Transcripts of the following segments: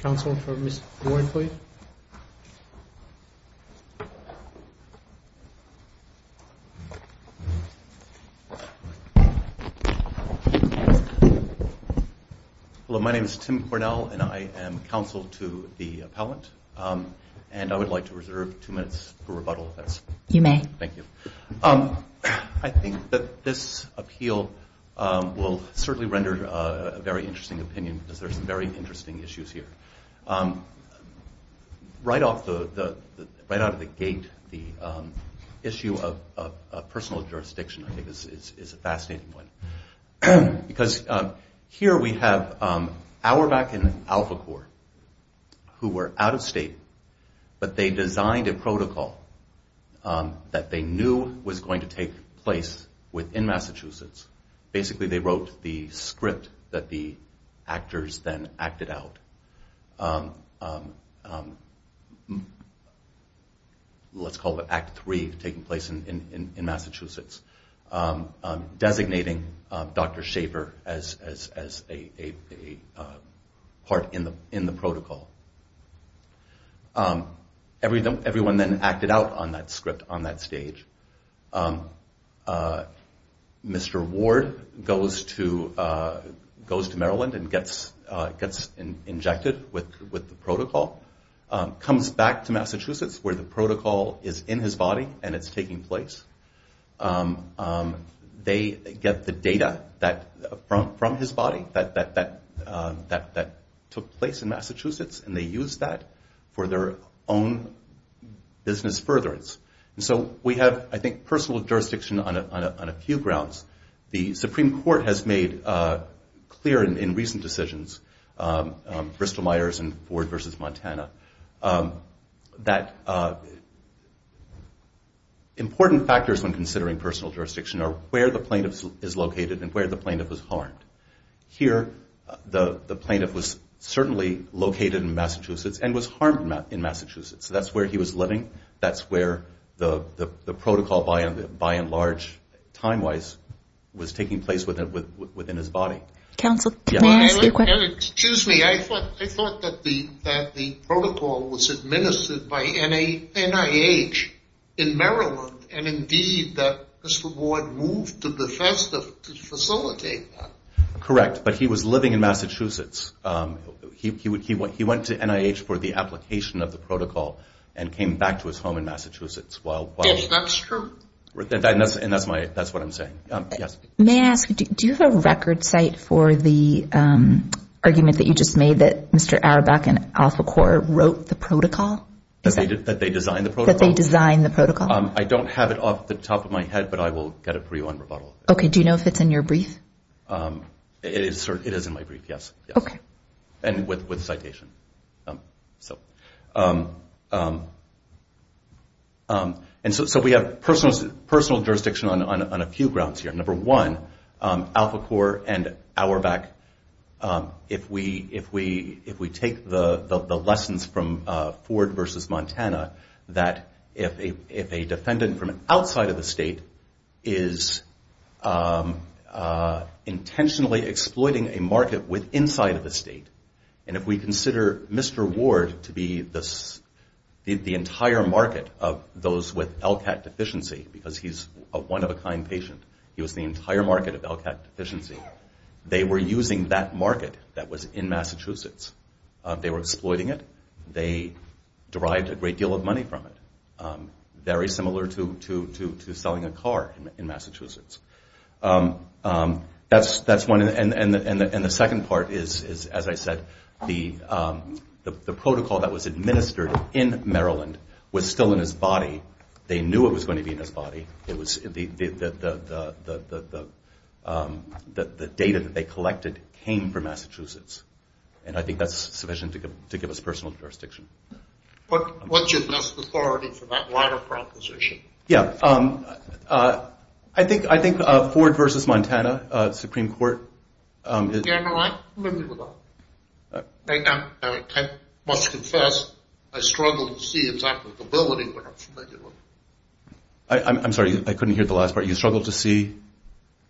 Council for Ms. Boyd, please. Hello, my name is Tim Cornell and I am counsel to the appellant and I would like to reserve two minutes for rebuttal. You may. Thank you. I think that this appeal will certainly render a very interesting opinion because there are some very interesting issues here. Right out of the gate, the issue of personal jurisdiction is a fascinating one. Here we have Auerbach and Alphacor who were out of state, but they designed a protocol that they knew was going to take place within Massachusetts. Basically they wrote the script that the actors then acted out. Let's call it Act 3 taking place in Massachusetts, designating Dr. Schaefer as a part in the protocol. Everyone then acted out on that script on that stage. Mr. Ward goes to Maryland and gets injected with the protocol, comes back to Massachusetts where the protocol is in his body and it's taking place. They get the data from his body that took place in Massachusetts and they use that for their own business furtherance. So we have, I think, personal jurisdiction on a few grounds. The Supreme Court has made clear in recent decisions, Bristol-Myers and Ford versus Montana, that important factors when considering personal jurisdiction are where the plaintiff is located and where the plaintiff was harmed. Here the plaintiff was certainly located in Massachusetts and was harmed in Massachusetts. That's where he was living. That's where the protocol, by and large, time-wise, was taking place within his body. Excuse me, I thought that the protocol was administered by NIH in Maryland and indeed that Mr. Ward moved to Bethesda to facilitate that. Correct, but he was living in Massachusetts. He went to NIH for the application of the protocol and came back to his home in Massachusetts. Yes, that's true. And that's what I'm saying. May I ask, do you have a record site for the argument that you just made that Mr. Auerbach and AlphaCore wrote the protocol? That they designed the protocol? That they designed the protocol. I don't have it off the top of my head, but I will get it for you on rebuttal. Okay, do you know if it's in your brief? It is in my brief, yes. Okay. And with citation. And so we have personal jurisdiction on a few grounds here. Number one, AlphaCore and Auerbach, if we take the lessons from Ford v. Montana, that if a defendant from outside of the state is intentionally exploiting a market inside of the state, and if we consider Mr. Ward to be the entire market of those with LCAT deficiency, because he's a one-of-a-kind patient, he was the entire market of LCAT deficiency, they were using that market that was in Massachusetts. They were exploiting it. They derived a great deal of money from it. Very similar to selling a car in Massachusetts. That's one. And the second part is, as I said, the protocol that was administered in Maryland was still in his body. They knew it was going to be in his body. The data that they collected came from Massachusetts. And I think that's sufficient to give us personal jurisdiction. What's your best authority for that latter proposition? Yeah, I think Ford v. Montana, Supreme Court. Yeah, no, I'm familiar with that. I must confess, I struggled to see its applicability when I'm familiar with it. I'm sorry, I couldn't hear the last part. You struggled to see?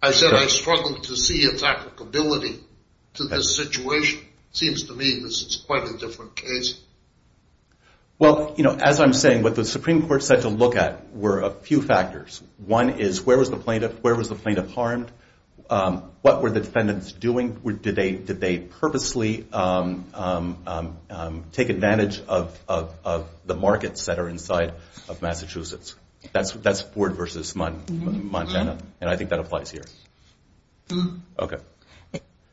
I said I struggled to see its applicability to this situation. It seems to me this is quite a different case. Well, you know, as I'm saying, what the Supreme Court said to look at were a few factors. One is where was the plaintiff harmed? What were the defendants doing? Did they purposely take advantage of the markets that are inside of Massachusetts? That's Ford v. Montana, and I think that applies here. Okay.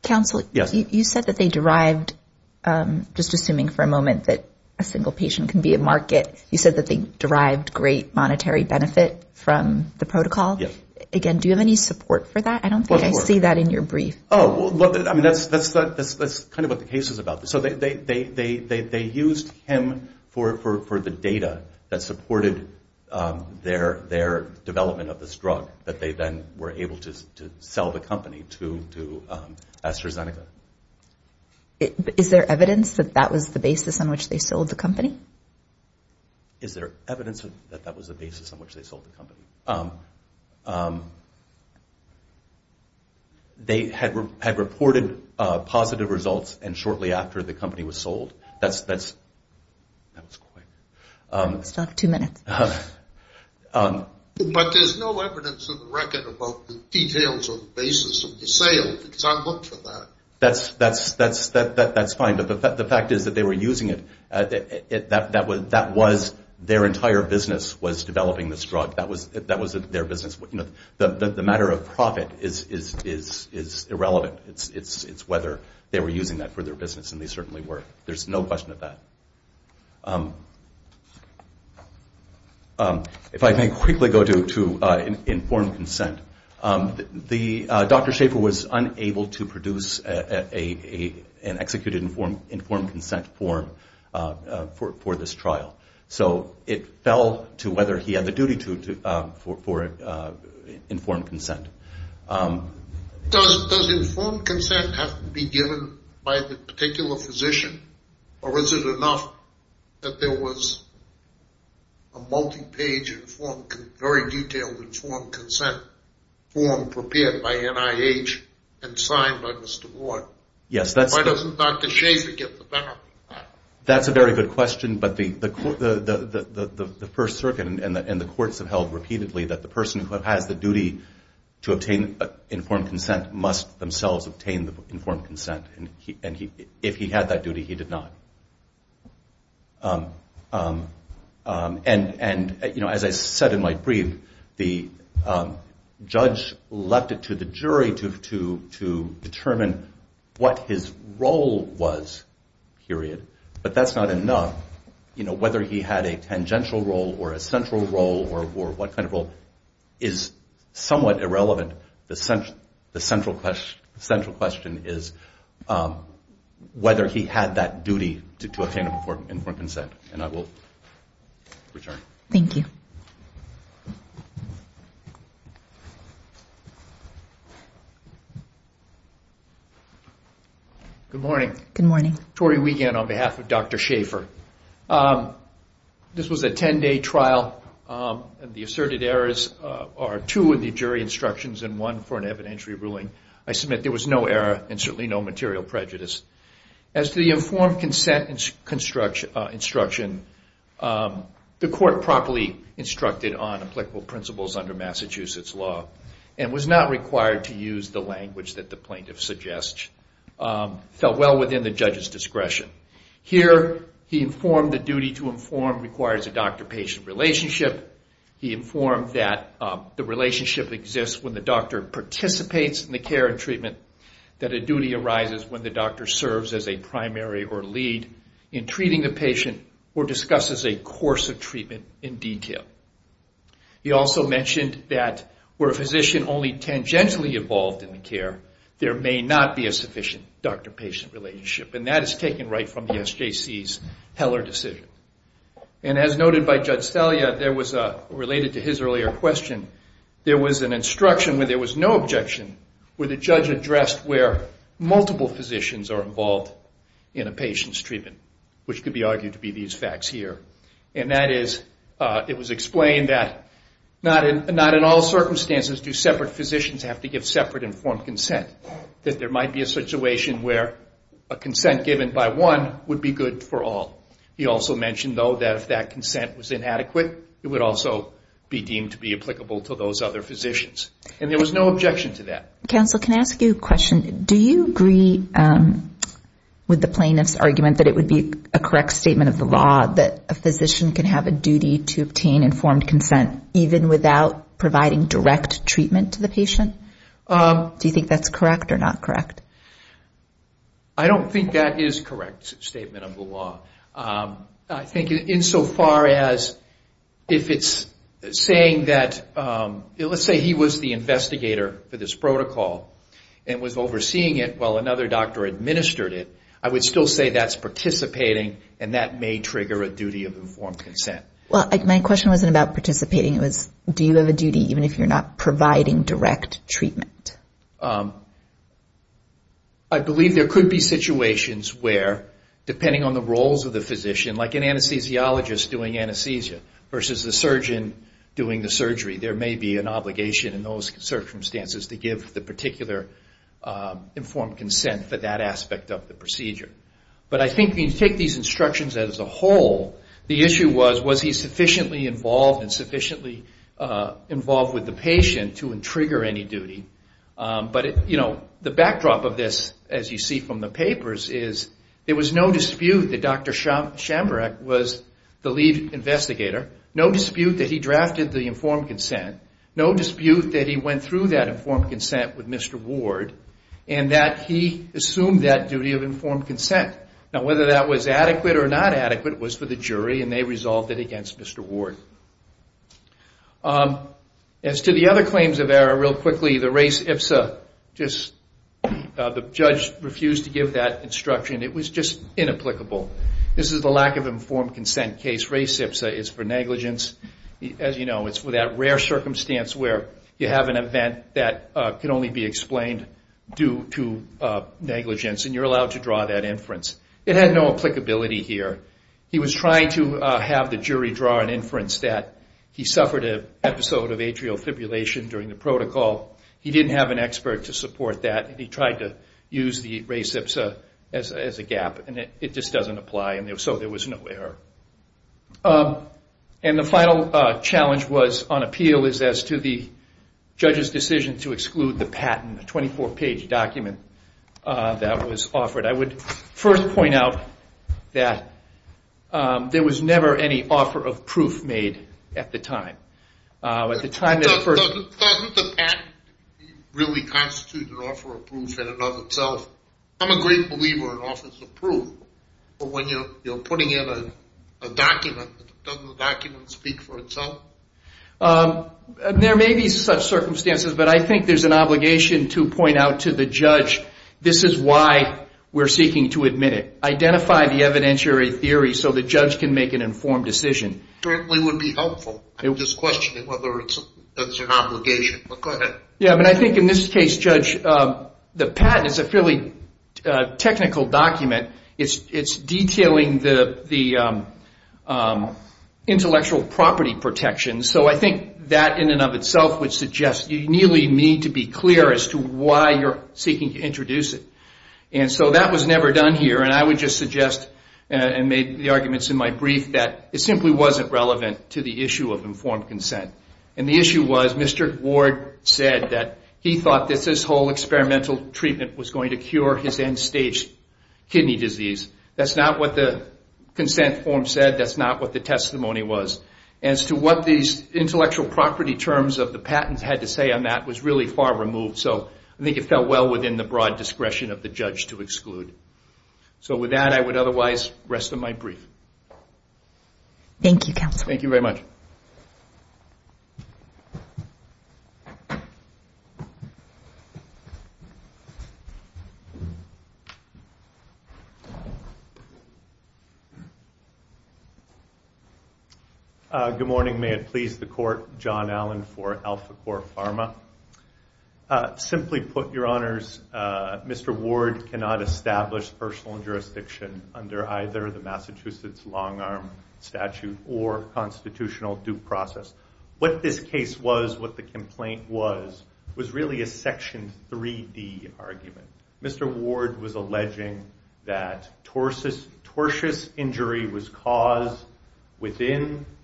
Counsel, you said that they derived, just assuming for a moment that a single patient can be a market, you said that they derived great monetary benefit from the protocol. Again, do you have any support for that? I don't think I see that in your brief. Oh, well, I mean, that's kind of what the case is about. So they used him for the data that supported their development of this drug, that they then were able to sell the company to AstraZeneca. Is there evidence that that was the basis on which they sold the company? Is there evidence that that was the basis on which they sold the company? They had reported positive results, and shortly after, the company was sold. That was quick. We still have two minutes. But there's no evidence in the record about the details or the basis of the sale, because I looked for that. That's fine, but the fact is that they were using it. Their entire business was developing this drug. That was their business. The matter of profit is irrelevant. It's whether they were using that for their business, and they certainly were. There's no question of that. If I may quickly go to informed consent. Dr. Schaefer was unable to produce an executed informed consent form for this trial, so it fell to whether he had the duty for informed consent. Does informed consent have to be given by the particular physician, or was it enough that there was a multi-page, very detailed informed consent form prepared by NIH and signed by Mr. Warren? Why doesn't Dr. Schaefer get the benefit of that? That's a very good question, but the First Circuit and the courts have held repeatedly that the person who has the duty to obtain informed consent must themselves obtain informed consent. If he had that duty, he did not. As I said in my brief, the judge left it to the jury to determine what his role was, period, but that's not enough. Whether he had a tangential role or a central role or what kind of role is somewhat irrelevant. The central question is whether he had that duty to obtain informed consent, and I will return. Thank you. Good morning. Good morning. Tory Wiegand on behalf of Dr. Schaefer. This was a 10-day trial. The asserted errors are two of the jury instructions and one for an evidentiary ruling. I submit there was no error and certainly no material prejudice. As to the informed consent instruction, the court properly instructed on applicable principles under Massachusetts law and was not required to use the language that the plaintiff suggests. It fell well within the judge's discretion. Here, he informed the duty to inform requires a doctor-patient relationship. He informed that the relationship exists when the doctor participates in the care and treatment, that a duty arises when the doctor serves as a primary or lead in treating the patient or discusses a course of treatment in detail. He also mentioned that were a physician only tangentially involved in the care, there may not be a sufficient doctor-patient relationship. And that is taken right from the SJC's Heller decision. And as noted by Judge Stelia, related to his earlier question, there was an instruction where there was no objection, where the judge addressed where multiple physicians are involved in a patient's treatment, which could be argued to be these facts here. And that is, it was explained that not in all circumstances do separate physicians have to give separate informed consent, that there might be a situation where a consent given by one would be good for all. He also mentioned, though, that if that consent was inadequate, it would also be deemed to be applicable to those other physicians. And there was no objection to that. Counsel, can I ask you a question? Do you agree with the plaintiff's argument that it would be a correct statement of the law that a physician can have a duty to obtain informed consent even without providing direct treatment to the patient? Do you think that's correct or not correct? I don't think that is a correct statement of the law. I think insofar as if it's saying that, let's say he was the investigator for this protocol and was overseeing it while another doctor administered it, I would still say that's participating and that may trigger a duty of informed consent. My question wasn't about participating. It was, do you have a duty even if you're not providing direct treatment? I believe there could be situations where, depending on the roles of the physician, like an anesthesiologist doing anesthesia versus the surgeon doing the surgery, there may be an obligation in those circumstances to give the particular informed consent for that aspect of the procedure. But I think when you take these instructions as a whole, the issue was, was he sufficiently involved and sufficiently involved with the patient to trigger any duty? But the backdrop of this, as you see from the papers, is there was no dispute that Dr. Shamburek was the lead investigator, no dispute that he drafted the informed consent, no dispute that he went through that informed consent with Mr. Ward, and that he assumed that duty of informed consent. Now, whether that was adequate or not adequate was for the jury, and they resolved it against Mr. Ward. As to the other claims of error, real quickly, the race ipsa, the judge refused to give that instruction. It was just inapplicable. This is the lack of informed consent case. Race ipsa is for negligence. As you know, it's for that rare circumstance where you have an event that can only be explained due to negligence, and you're allowed to draw that inference. It had no applicability here. He was trying to have the jury draw an inference that he suffered an episode of atrial fibrillation during the protocol. He didn't have an expert to support that. He tried to use the race ipsa as a gap, and it just doesn't apply, and so there was no error. And the final challenge on appeal is as to the judge's decision to exclude the patent, a 24-page document that was offered. I would first point out that there was never any offer of proof made at the time. Doesn't the patent really constitute an offer of proof in and of itself? I'm a great believer in offers of proof, but when you're putting in a document, doesn't the document speak for itself? There may be such circumstances, but I think there's an obligation to point out to the judge this is why we're seeking to admit it. Identify the evidentiary theory so the judge can make an informed decision. Certainly would be helpful. I'm just questioning whether that's an obligation, but go ahead. Yeah, but I think in this case, Judge, the patent is a fairly technical document. It's detailing the intellectual property protection, so I think that in and of itself would suggest you really need to be clear as to why you're seeking to introduce it. And so that was never done here, and I would just suggest and make the arguments in my brief that it simply wasn't relevant to the issue of informed consent. And the issue was Mr. Ward said that he thought that this whole experimental treatment was going to cure his end-stage kidney disease. That's not what the consent form said. That's not what the testimony was. As to what these intellectual property terms of the patents had to say on that was really far removed, so I think it fell well within the broad discretion of the judge to exclude. So with that, I would otherwise rest of my brief. Thank you, Counselor. Thank you very much. Thank you. Good morning. May it please the Court. John Allen for AlphaCore Pharma. Simply put, Your Honors, Mr. Ward cannot establish personal jurisdiction under either the Massachusetts long-arm statute or constitutional due process. What this case was, what the complaint was, was really a Section 3D argument. Mr. Ward was alleging that tortious injury was caused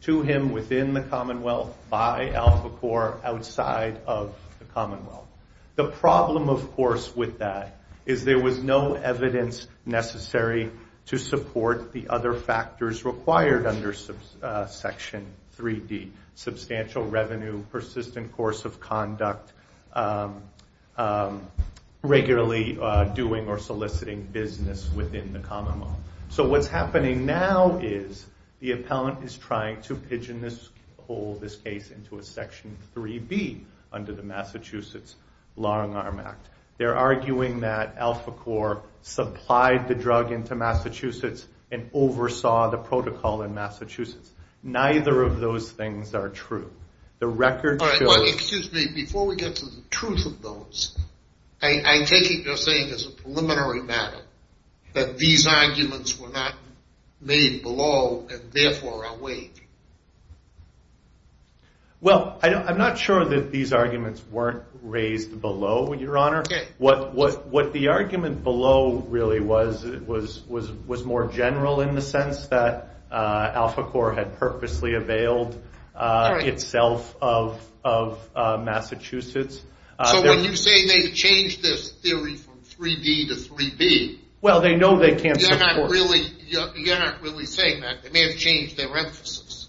to him within the Commonwealth by AlphaCore outside of the Commonwealth. The problem, of course, with that is there was no evidence necessary to support the other factors required under Section 3D, substantial revenue, persistent course of conduct, regularly doing or soliciting business within the Commonwealth. So what's happening now is the appellant is trying to pigeonhole this case into a Section 3B under the Massachusetts long-arm act. They're arguing that AlphaCore supplied the drug into Massachusetts and oversaw the protocol in Massachusetts. Neither of those things are true. The record shows... All right. Well, excuse me. Before we get to the truth of those, I take it you're saying as a preliminary matter that these arguments were not made below and therefore are weighed. Well, I'm not sure that these arguments weren't raised below, Your Honor. Okay. What the argument below really was was more general in the sense that AlphaCore had purposely availed itself of Massachusetts. So when you say they changed this theory from 3D to 3B... Well, they know they can't support... You're not really saying that. They may have changed their emphasis.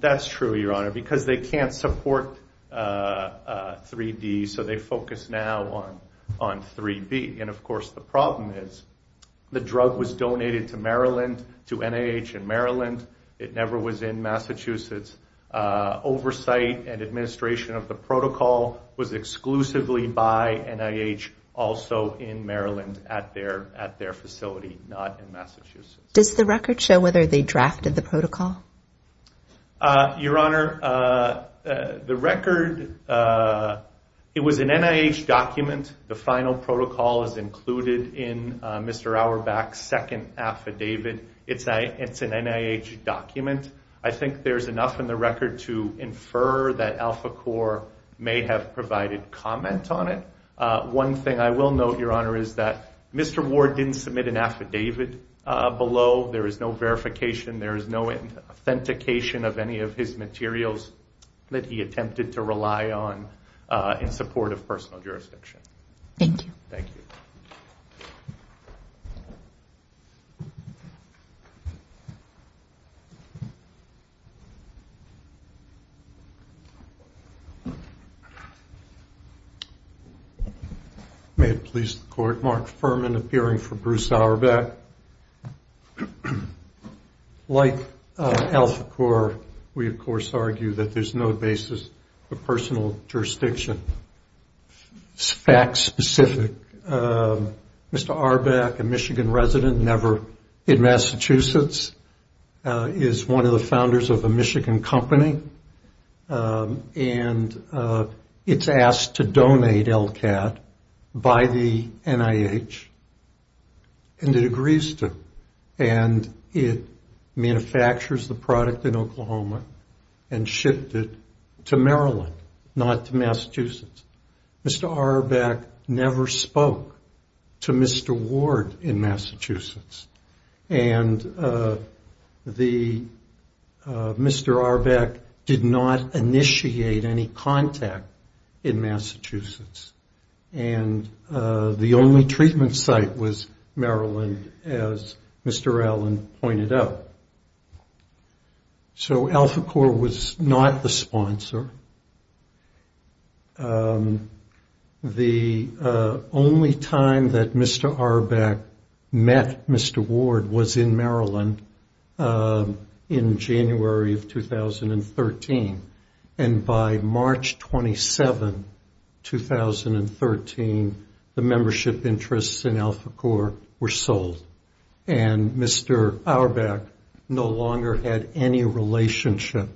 That's true, Your Honor, because they can't support 3D, so they focus now on 3B. And, of course, the problem is the drug was donated to Maryland, to NIH in Maryland. It never was in Massachusetts. Oversight and administration of the protocol was exclusively by NIH, also in Maryland at their facility, not in Massachusetts. Does the record show whether they drafted the protocol? Your Honor, the record, it was an NIH document. The final protocol is included in Mr. Auerbach's second affidavit. It's an NIH document. I think there's enough in the record to infer that AlphaCore may have provided comment on it. One thing I will note, Your Honor, is that Mr. Ward didn't submit an affidavit below. There is no verification. There is no authentication of any of his materials that he attempted to rely on in support of personal jurisdiction. Thank you. Thank you. Thank you. May it please the Court, Mark Furman, appearing for Bruce Auerbach. Like AlphaCore, we, of course, argue that there's no basis for personal jurisdiction. Fact specific, Mr. Auerbach, a Michigan resident, never in Massachusetts, is one of the founders of a Michigan company, and it's asked to donate LCAT by the NIH, and it agrees to. And it manufactures the product in Oklahoma and shipped it to Maryland, not to Massachusetts. Mr. Auerbach never spoke to Mr. Ward in Massachusetts. And Mr. Auerbach did not initiate any contact in Massachusetts. And the only treatment site was Maryland, as Mr. Allen pointed out. So AlphaCore was not the sponsor. The only time that Mr. Auerbach met Mr. Ward was in Maryland in January of 2013. And by March 27, 2013, the membership interests in AlphaCore were sold. And Mr. Auerbach no longer had any relationship.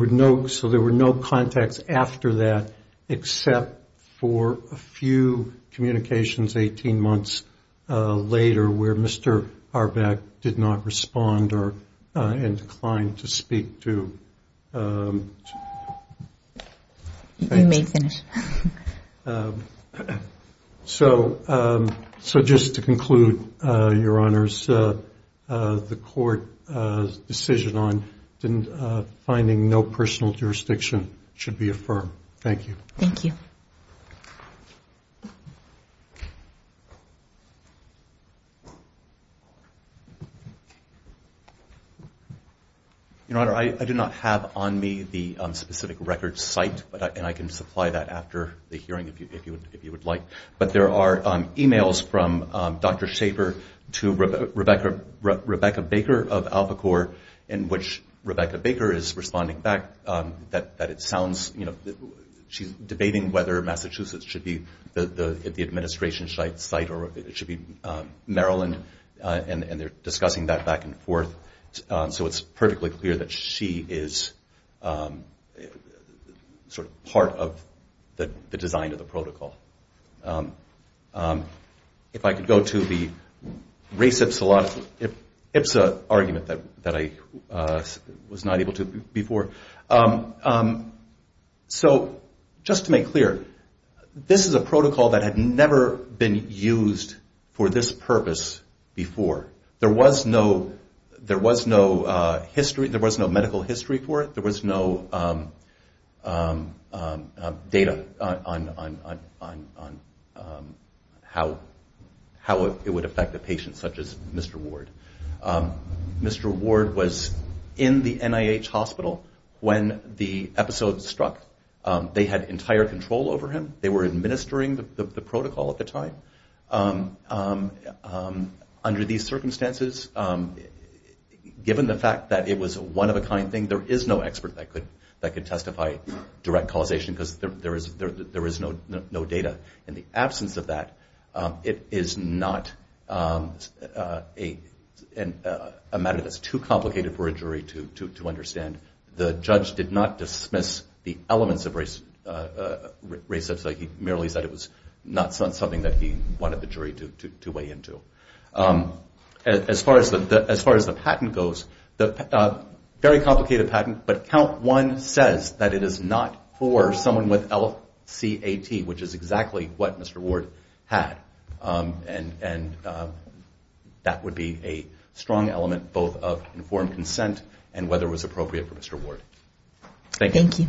So there were no contacts after that, except for a few communications 18 months later, where Mr. Auerbach did not respond or inclined to speak to. Thank you. So just to conclude, Your Honors, the court's decision on finding no personal jurisdiction should be affirmed. Thank you. Your Honor, I do not have on me the specific record site, and I can supply that after the hearing if you would like. But there are e-mails from Dr. Schaefer to Rebecca Baker of AlphaCore, in which Rebecca Baker is responding back that she's debating whether Massachusetts should be the administration site, or it should be Maryland, and they're discussing that back and forth. So it's perfectly clear that she is sort of part of the design of the protocol. If I could go to the race ipsa argument that I was not able to before. So just to make clear, this is a protocol that had never been used for this purpose before. There was no medical history for it. There was no data on how it would affect a patient such as Mr. Ward. Mr. Ward was in the NIH hospital when the episode struck. They had entire control over him. They were administering the protocol at the time. Under these circumstances, given the fact that it was a one-of-a-kind thing, there is no expert that could testify direct causation because there is no data. In the absence of that, it is not a matter that's too complicated for a jury to understand. The judge did not dismiss the elements of race ipsa. He merely said it was not something that he wanted the jury to weigh into. As far as the patent goes, very complicated patent, but count one says that it is not for someone with LCAT, which is exactly what Mr. Ward had. And that would be a strong element both of informed consent and whether it was appropriate for Mr. Ward. Thank you.